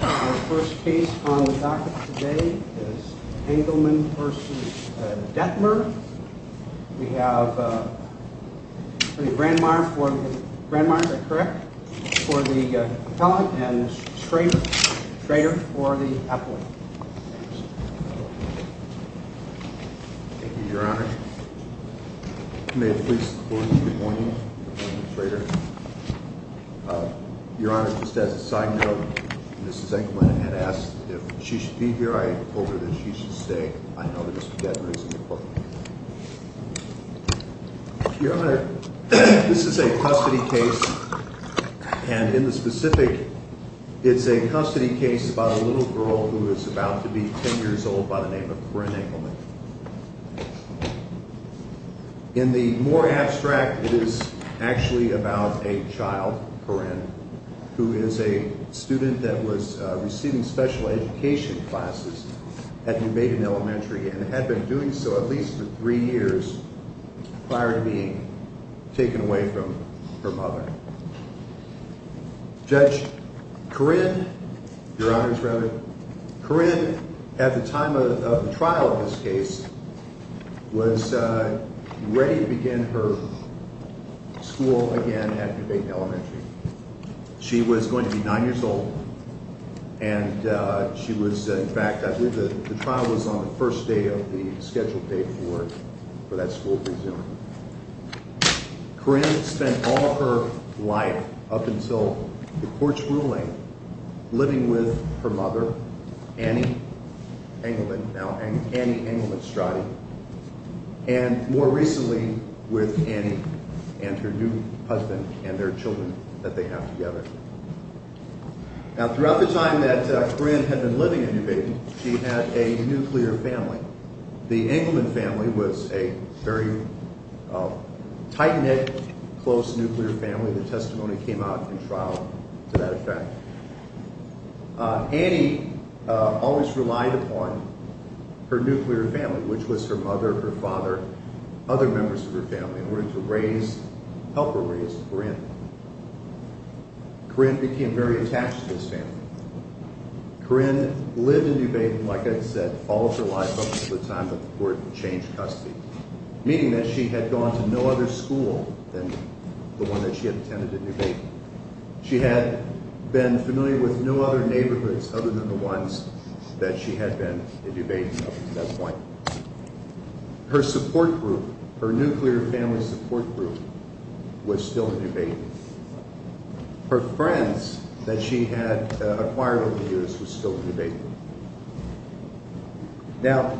Our first case on the docket today is Engelmann v. Detmer. We have Brandmeier for the propellant and Schrader for the ethylene. Thank you, Your Honor. May it please the Court, good morning. Good morning, Schrader. Your Honor, just as a side note, Mrs. Engelmann had asked if she should be here. I told her that she should stay. I know that this is a debt-raising court. Your Honor, this is a custody case, and in the specific, it's a custody case about a little girl who is about to be 10 years old by the name of Corinne Engelmann. In the more abstract, it is actually about a child, Corinne, who is a student that was receiving special education classes at New Maiden Elementary and had been doing so at least for three years prior to being taken away from her mother. Judge, Corinne, Your Honor's Reverend, Corinne, at the time of the trial of this case, was ready to begin her school again at New Maiden Elementary. She was going to be 9 years old, and she was, in fact, I believe the trial was on the first day of the scheduled date for that school to resume. Corinne spent all of her life, up until the court's ruling, living with her mother, Annie Engelmann, now Annie Engelmann-Strade, and more recently with Annie and her new husband and their children that they have together. Now, throughout the time that Corinne had been living at New Maiden, she had a nuclear family. The Engelmann family was a very tight-knit, close nuclear family. The testimony came out in trial to that effect. Annie always relied upon her nuclear family, which was her mother, her father, other members of her family, in order to help her raise Corinne. Corinne became very attached to this family. Corinne lived in New Maiden, like I said, all of her life up until the time that the court changed custody, meaning that she had gone to no other school than the one that she had attended at New Maiden. She had been familiar with no other neighborhoods other than the ones that she had been at New Maiden up until that point. Her support group, her nuclear family support group, was still at New Maiden. Her friends that she had acquired over the years was still at New Maiden. Now,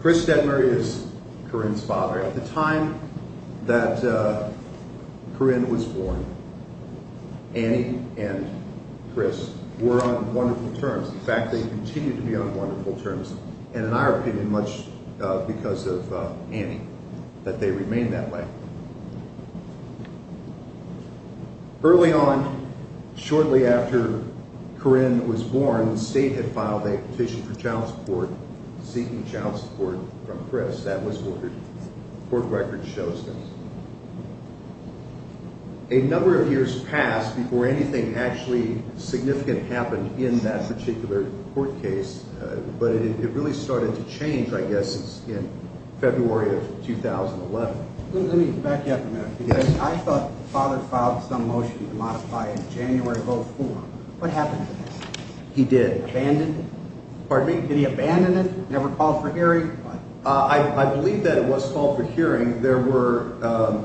Chris Steadmurray is Corinne's father. At the time that Corinne was born, Annie and Chris were on wonderful terms. In fact, they continue to be on wonderful terms, and in our opinion, much because of Annie, that they remain that way. Early on, shortly after Corinne was born, the state had filed a petition for child support, seeking child support from Chris. That was ordered. The court record shows that. A number of years passed before anything actually significant happened in that particular court case, but it really started to change, I guess, in February of 2011. Let me back you up a minute. I thought the father filed some motion to modify it in January of 2004. What happened to this? He did. Abandoned it? Pardon me? Did he abandon it? Never called for hearing? I believe that it was called for hearing. There were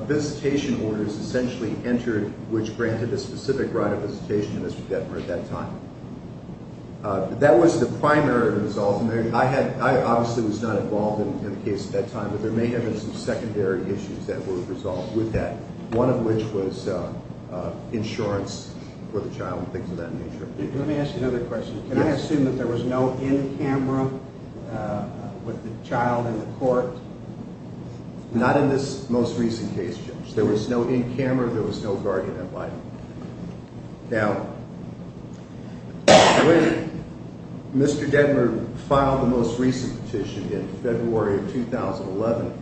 visitation orders essentially entered, which granted a specific right of visitation to Mr. Steadmurray at that time. That was the primary result. I obviously was not involved in the case at that time, but there may have been some secondary issues that were resolved with that, one of which was insurance for the child and things of that nature. Let me ask you another question. Can I assume that there was no in-camera with the child in the court? Not in this most recent case, Jim. There was no in-camera. There was no guardian invited. Now, when Mr. Detmer filed the most recent petition in February of 2011,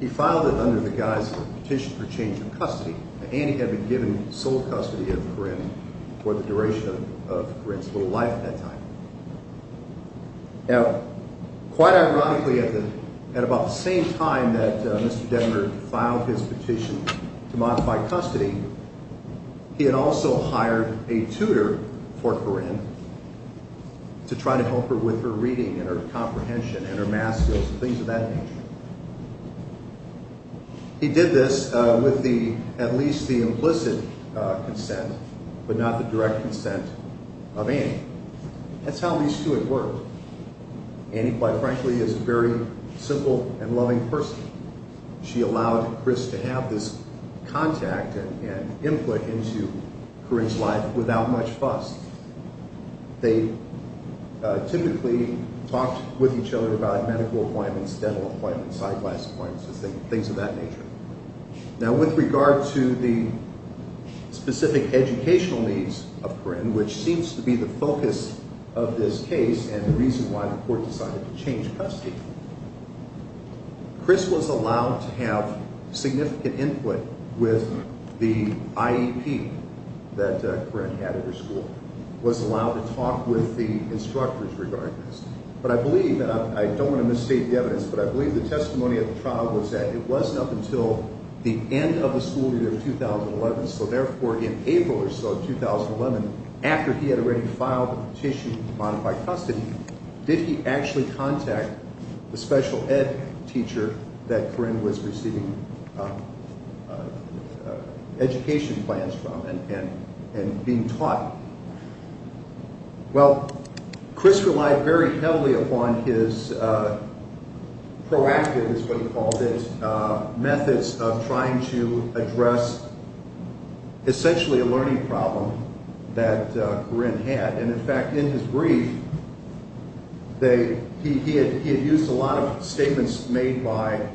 he filed it under the guise of a petition for change of custody, and he had been given sole custody of Corinne for the duration of Corinne's little life at that time. Now, quite ironically, at about the same time that Mr. Detmer filed his petition to modify custody, he had also hired a tutor for Corinne to try to help her with her reading and her comprehension and her math skills and things of that nature. He did this with at least the implicit consent, but not the direct consent of Annie. That's how these two had worked. Annie, quite frankly, is a very simple and loving person. She allowed Chris to have this contact and input into Corinne's life without much fuss. They typically talked with each other about medical appointments, dental appointments, eyeglass appointments, things of that nature. Now, with regard to the specific educational needs of Corinne, which seems to be the focus of this case and the reason why the court decided to change custody, Chris was allowed to have significant input with the IEP that Corinne had at her school, was allowed to talk with the instructors regarding this. But I believe, and I don't want to misstate the evidence, but I believe the testimony of the trial was that it wasn't up until the end of the school year of 2011, so therefore in April or so of 2011, after he had already filed the petition to modify custody, did he actually contact the special ed teacher that Corinne was receiving education plans from and being taught? Well, Chris relied very heavily upon his proactive, is what he called it, methods of trying to address essentially a learning problem that Corinne had. And in fact, in his brief, he had used a lot of statements made by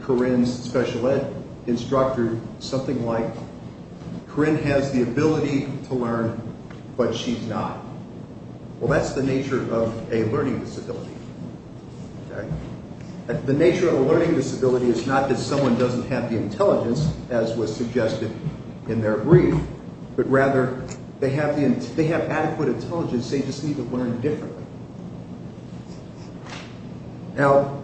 Corinne's special ed instructor, something like, Corinne has the ability to learn, but she's not. Well, that's the nature of a learning disability. The nature of a learning disability is not that someone doesn't have the intelligence, as was suggested in their brief, but rather they have adequate intelligence, they just need to learn differently. Now,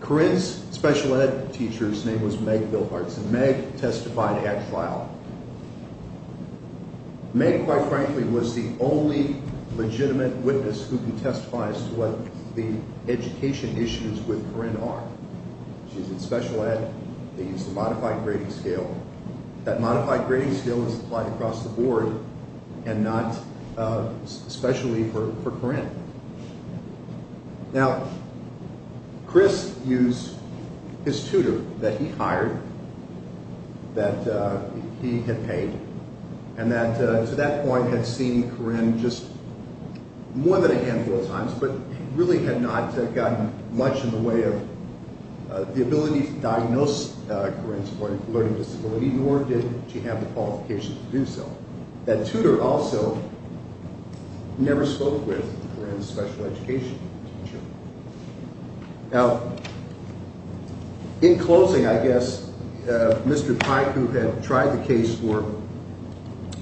Corinne's special ed teacher's name was Meg Bilharts, and Meg testified at trial. Meg, quite frankly, was the only legitimate witness who can testify as to what the education issues with Corinne are. She's in special ed, they used a modified grading scale. That modified grading scale is applied across the board and not especially for Corinne. Now, Chris used his tutor that he hired, that he had paid, and that to that point had seen Corinne just more than a handful of times, but really had not gotten much in the way of the ability to diagnose Corinne's learning disability, nor did she have the qualifications to do so. That tutor also never spoke with Corinne's special education teacher. Now, in closing, I guess, Mr. Pike, who had tried the case for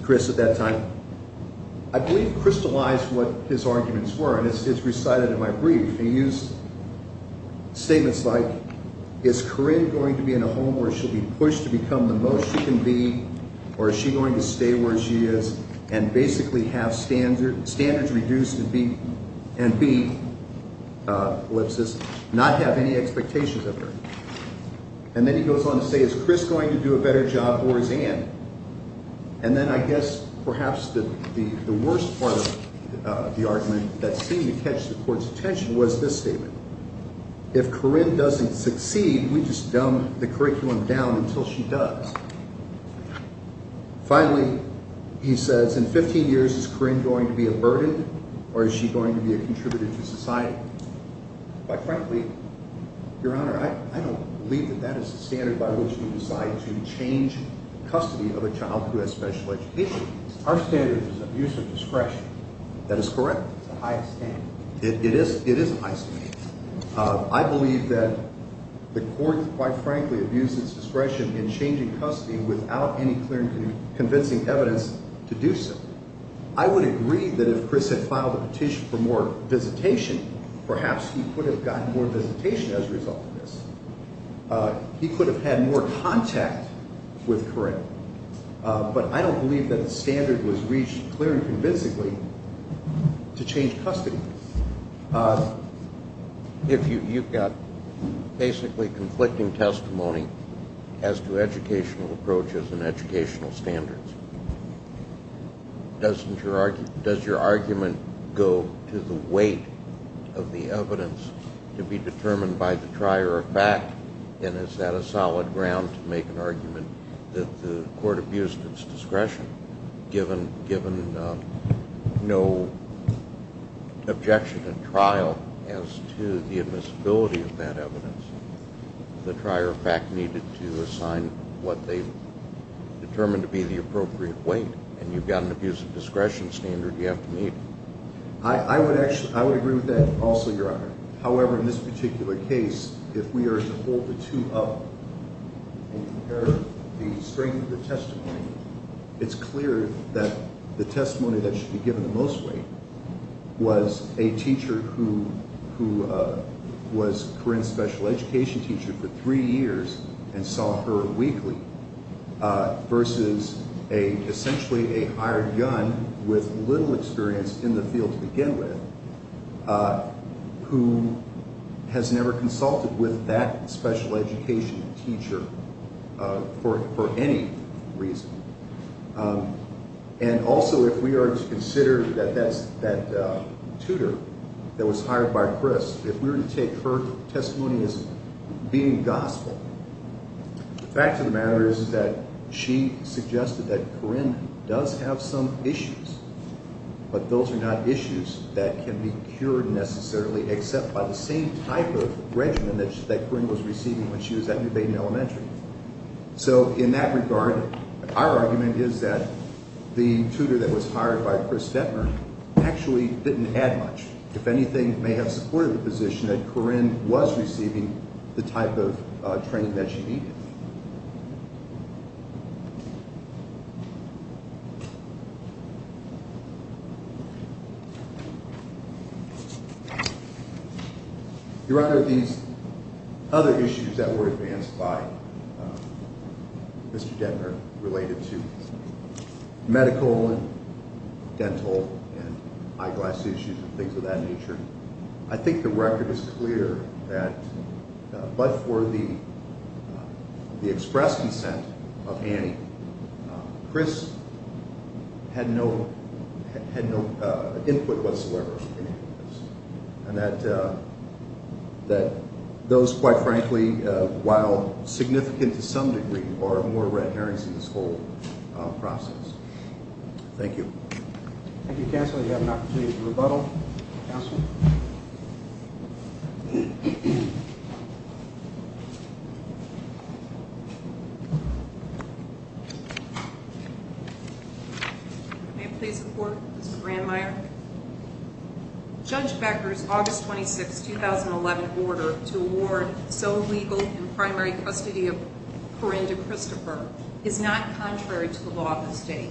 Chris at that time, I believe crystallized what his arguments were, and it's recited in my brief. He used statements like, is Corinne going to be in a home where she'll be pushed to become the most she can be, or is she going to stay where she is and basically have standards reduced and be, ellipsis, not have any expectations of her? And then he goes on to say, is Chris going to do a better job or is Anne? And then I guess perhaps the worst part of the argument that seemed to catch the court's attention was this statement. If Corinne doesn't succeed, we just dumb the curriculum down until she does. Finally, he says, in 15 years, is Corinne going to be a burden or is she going to be a contributor to society? Quite frankly, Your Honor, I don't believe that that is the standard by which we decide to change the custody of a child who has special education. Our standard is abuse of discretion. That is correct. It's the highest standard. It is the highest standard. I believe that the court, quite frankly, abuses discretion in changing custody without any clear and convincing evidence to do so. I would agree that if Chris had filed a petition for more visitation, perhaps he could have gotten more visitation as a result of this. He could have had more contact with Corinne. But I don't believe that the standard was reached clear and convincingly to change custody. You've got basically conflicting testimony as to educational approaches and educational standards. Does your argument go to the weight of the evidence to be determined by the trier of fact? And is that a solid ground to make an argument that the court abused its discretion, given no objection in trial as to the admissibility of that evidence? The trier of fact needed to assign what they determined to be the appropriate weight. And you've got an abuse of discretion standard you have to meet. I would agree with that also, Your Honor. However, in this particular case, if we are to hold the two up and compare the strength of the testimony, it's clear that the testimony that should be given the most weight was a teacher who was Corinne's special education teacher for three years and saw her weekly versus essentially a hired gun with little experience in the field to begin with who has never consulted with that special education teacher for any reason. And also if we are to consider that tutor that was hired by Chris, if we were to take her testimony as being gospel, the fact of the matter is that she suggested that Corinne does have some issues, but those are not issues that can be cured necessarily except by the same type of regimen that Corinne was receiving when she was at New Baden Elementary. So in that regard, our argument is that the tutor that was hired by Chris Detmer actually didn't add much. If anything, it may have supported the position that Corinne was receiving the type of training that she needed. Your Honor, these other issues that were advanced by Mr. Detmer related to medical and dental and eyeglass issues and things of that nature, I think the record is clear that, but for the express consent of Annie, Chris had no input whatsoever in any of this. And that those, quite frankly, while significant to some degree, are more red herrings in this whole process. Thank you. Thank you, Counsel. You have an opportunity to rebuttal. Counsel? May I please report, Mr. Brandmeier? Judge Becker's August 26, 2011 order to award so-legal and primary custody of Corinne to Christopher is not contrary to the law of this state.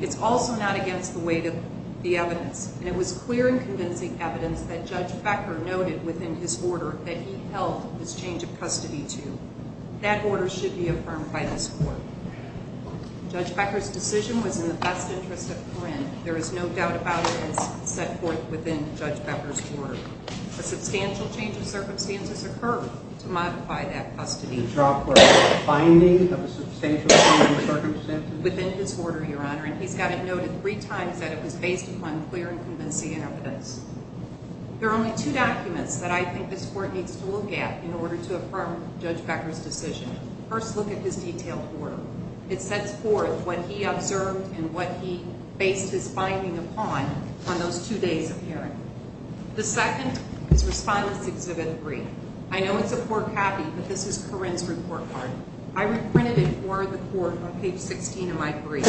It's also not against the weight of the evidence. And it was clear and convincing evidence that Judge Becker noted within his order that he held this change of custody to. That order should be affirmed by this Court. Judge Becker's decision was in the best interest of Corinne. There is no doubt about it as set forth within Judge Becker's order. A substantial change of circumstances occurred to modify that custody. The finding of a substantial change of circumstances within his order, Your Honor, and he's got it noted three times that it was based upon clear and convincing evidence. There are only two documents that I think this Court needs to look at in order to affirm Judge Becker's decision. First, look at his detailed order. It sets forth what he observed and what he based his finding upon on those two days of hearing. The second is Respondent's Exhibit 3. I know it's a poor copy, but this is Corinne's report card. I reprinted it for the Court on page 16 of my brief.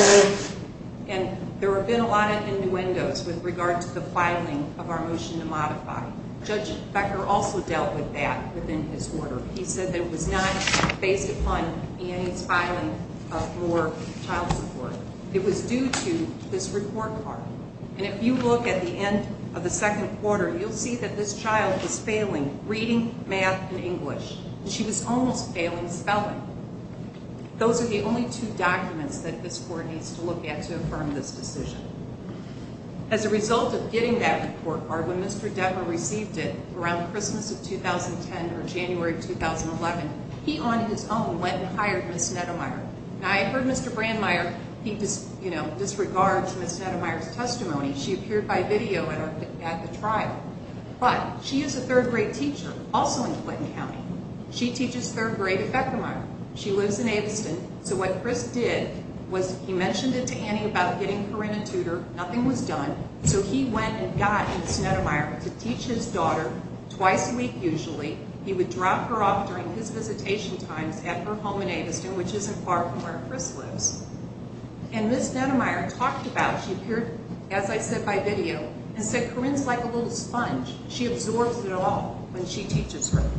And there have been a lot of innuendos with regard to the filing of our motion to modify. Judge Becker also dealt with that within his order. He said that it was not based upon Annie's filing for child support. It was due to this report card. And if you look at the end of the second quarter, you'll see that this child was failing reading, math, and English. And she was almost failing spelling. Those are the only two documents that this Court needs to look at to affirm this decision. As a result of getting that report card when Mr. Detmer received it around Christmas of 2010 or January of 2011, he on his own went and hired Ms. Neddemeier. And I heard Mr. Brandmeier disregard Ms. Neddemeier's testimony. She appeared by video at the trial. But she is a third grade teacher, also in Clinton County. She teaches third grade at Beckermeier. She lives in Aviston. So what Chris did was he mentioned it to Annie about getting Corinne a tutor. Nothing was done. So he went and got Ms. Neddemeier to teach his daughter, twice a week usually. He would drop her off during his visitation times at her home in Aviston, which isn't far from where Chris lives. And Ms. Neddemeier talked about, she appeared as I said by video, and said Corinne's like a little sponge. She absorbs it all when she teaches her.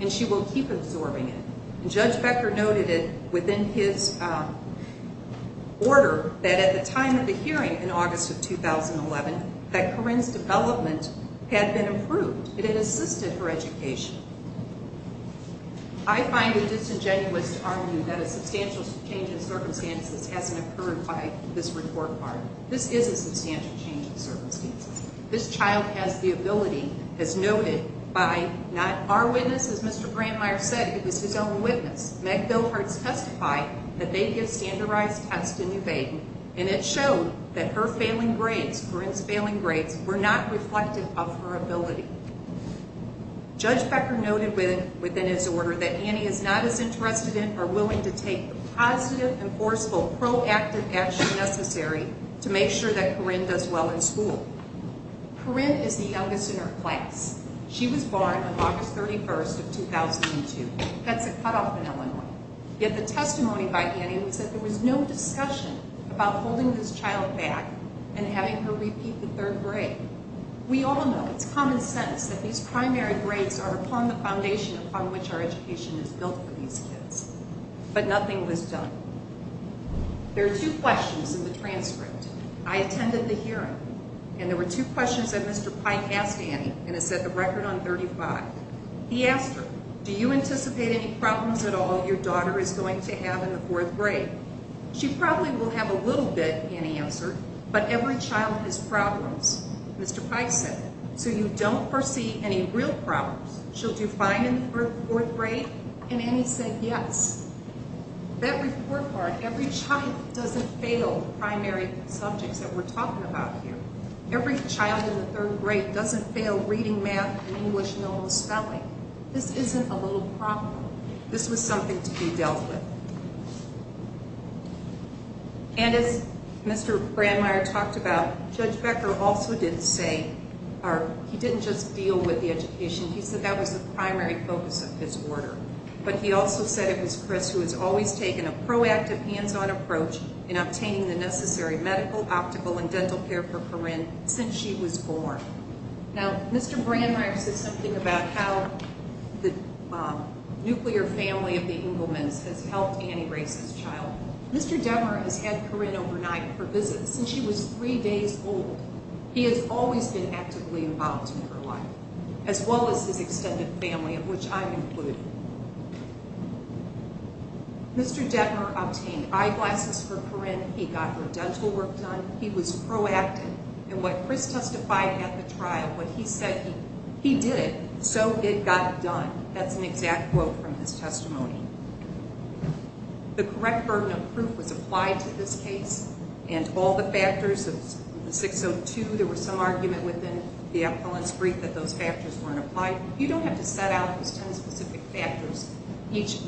And she will keep absorbing it. And Judge Becker noted it within his order that at the time of the hearing in August of 2011, that Corinne's development had been improved. It had assisted her education. I find it disingenuous to argue that a substantial change in circumstances hasn't occurred by this report card. This is a substantial change in circumstances. This child has the ability, as noted by not our witness, as Mr. Brandmeier said, it was his own witness. Meg Bilharts testified that they give standardized tests in New Baden. And it showed that her failing grades, Corinne's failing grades, were not reflective of her ability. Judge Becker noted within his order that Annie is not as interested in or willing to take the positive, enforceable, proactive action necessary to make sure that Corinne does well in school. Corinne is the youngest in her class. She was born on August 31st of 2002. That's a cutoff in Illinois. Yet the testimony by Annie was that there was no discussion about holding this child back and having her repeat the third grade. We all know, it's common sense, that these primary grades are upon the foundation upon which our education is built for these kids. But nothing was done. There are two questions in the transcript. I attended the hearing, and there were two questions that Mr. Pike asked Annie, and it's at the record on 35. He asked her, do you anticipate any problems at all your daughter is going to have in the fourth grade? She probably will have a little bit, Annie answered, but every child has problems. Mr. Pike said, so you don't foresee any real problems? She'll do fine in the fourth grade? And Annie said, yes. That report card, every child doesn't fail primary subjects that we're talking about here. Every child in the third grade doesn't fail reading, math, and English, and all the spelling. This isn't a little problem. This was something to be dealt with. And as Mr. Brandmeier talked about, Judge Becker also didn't say, or he didn't just deal with the education, he said that was the primary focus of his order. But he also said it was Chris who has always taken a proactive, hands-on approach in obtaining the necessary medical, optical, and dental care for Corinne since she was born. Now, Mr. Brandmeier said something about how the nuclear family of the Engelmans has helped Annie raise this child. Mr. Detmer has had Corinne overnight for visits since she was three days old. He has always been actively involved in her life, as well as his extended family, of which I'm included. Mr. Detmer obtained eyeglasses for Corinne, he got her dental work done, he was proactive. And what Chris testified at the trial, what he said, he did it, so it got done. That's an exact quote from his testimony. The correct burden of proof was applied to this case, and all the factors of 602, there was some argument within the appellant's brief that those factors weren't applied. You don't have to set out those ten specific factors, each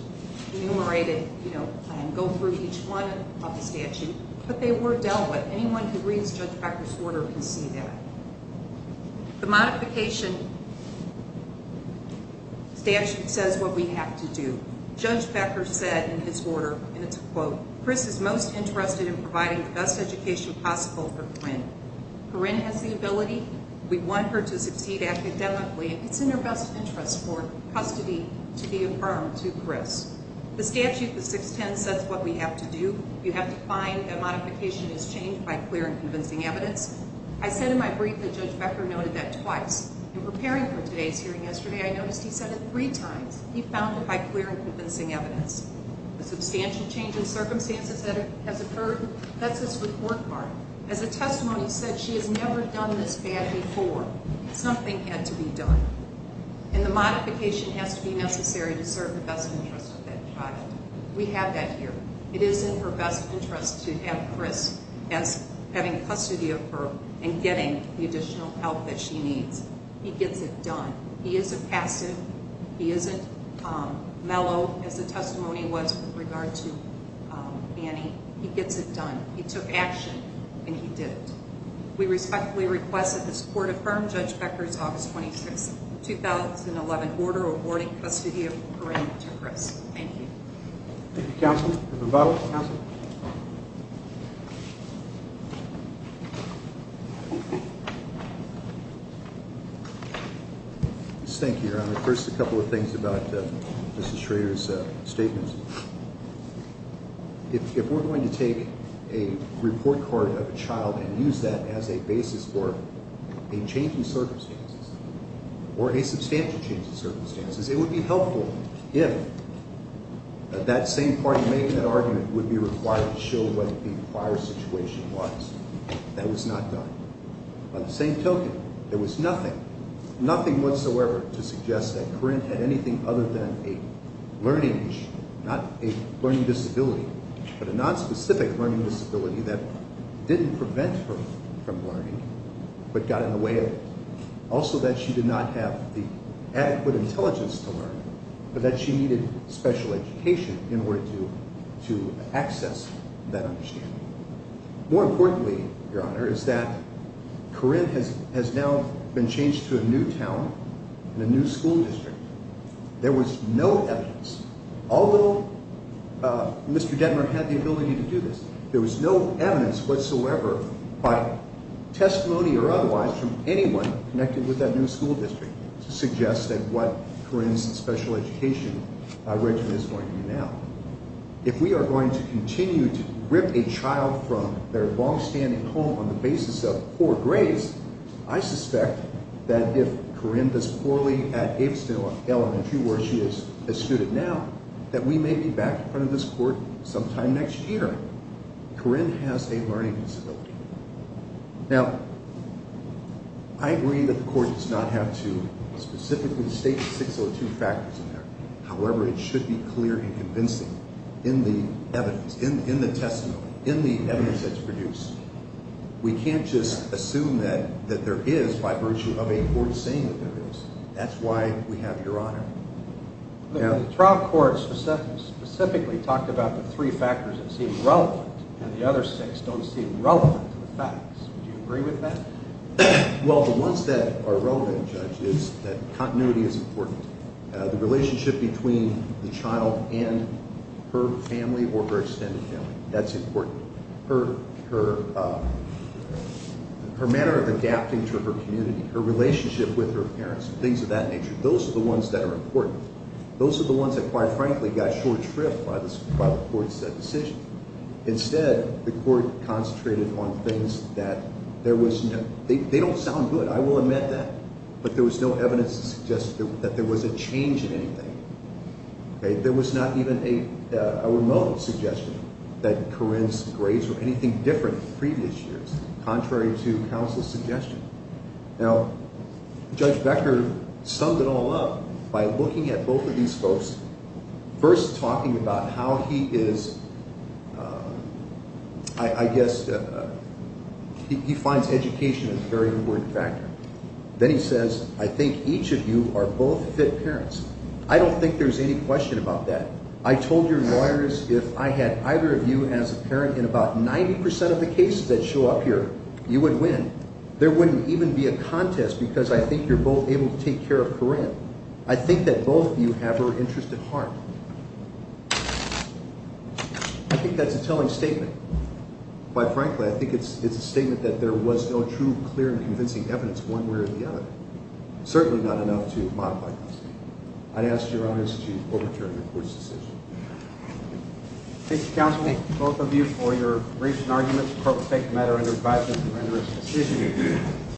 enumerated, you know, and go through each one of the statute. But they were dealt with. Anyone who reads Judge Becker's order can see that. The modification statute says what we have to do. Judge Becker said in his order, and it's a quote, Chris is most interested in providing the best education possible for Corinne. Corinne has the ability, we want her to succeed academically, and it's in her best interest for custody to be affirmed to Chris. The statute, the 610, says what we have to do. You have to find that modification is changed by clear and convincing evidence. I said in my brief that Judge Becker noted that twice. In preparing for today's hearing yesterday, I noticed he said it three times. He found it by clear and convincing evidence. The substantial change in circumstances that has occurred, that's his report card. As the testimony said, she has never done this bad before. Something had to be done. And the modification has to be necessary to serve the best interest of that child. We have that here. It is in her best interest to have Chris having custody of her and getting the additional help that she needs. He gets it done. He is a passive, he isn't mellow as the testimony was with regard to Annie. He gets it done. He took action, and he did it. We respectfully request that this court affirm Judge Becker's August 26, 2011, order awarding custody of Corrine to Chris. Thank you. Thank you, Counsel. Thank you, Your Honor. First, a couple of things about Mrs. Schrader's statements. If we're going to take a report card of a child and use that as a basis for a change in circumstances, or a substantial change in circumstances, it would be helpful if that same party making that argument would be required to show what the prior situation was. That was not done. On the same token, there was nothing, nothing whatsoever to suggest that Corrine had anything other than a learning, not a learning disability, but a nonspecific learning disability that didn't prevent her from learning, but got in the way of it. Also that she did not have the adequate intelligence to learn, but that she needed special education in order to access that understanding. More importantly, Your Honor, is that Corrine has now been changed to a new town and a new school district. There was no evidence, although Mr. Detmer had the ability to do this, there was no evidence whatsoever by testimony or otherwise from anyone connected with that new school district to suggest that what Corrine's special education regimen is going to be now. If we are going to continue to rip a child from their longstanding home on the basis of poor grades, I suspect that if Corrine does poorly at Gapesdale Elementary where she is a student now, that we may be back in front of this Court sometime next year. Corrine has a learning disability. Now, I agree that the Court does not have to specifically state the 602 factors in there. However, it should be clear and convincing in the evidence, in the testimony, in the evidence that's produced. We can't just assume that there is by virtue of a court saying that there is. That's why we have Your Honor. The trial court specifically talked about the three factors that seem relevant, and the other six don't seem relevant to the facts. Do you agree with that? Well, the ones that are relevant, Judge, is that continuity is important. The relationship between the child and her family or her extended family, that's important. Her manner of adapting to her community, her relationship with her parents, things of that nature, those are the ones that are important. Those are the ones that, quite frankly, got short shrift by the Court's decision. Instead, the Court concentrated on things that there was no, they don't sound good, I will admit that, but there was no evidence to suggest that there was a change in anything. There was not even a remote suggestion that Corrine's grades were anything different from previous years, contrary to counsel's suggestion. Now, Judge Becker summed it all up by looking at both of these folks, first talking about how he is, I guess, he finds education as a very important factor. And then he says, I think each of you are both fit parents. I don't think there's any question about that. I told your lawyers if I had either of you as a parent in about 90% of the cases that show up here, you would win. There wouldn't even be a contest because I think you're both able to take care of Corrine. I think that both of you have her interest at heart. I think that's a telling statement. Quite frankly, I think it's a statement that there was no true, clear and convincing evidence one way or the other. Certainly not enough to modify this. I'd ask your honors to overturn the Court's decision. Thank you, counsel. Thank both of you for your briefs and arguments. The Court will take the matter under advisement to render its decision.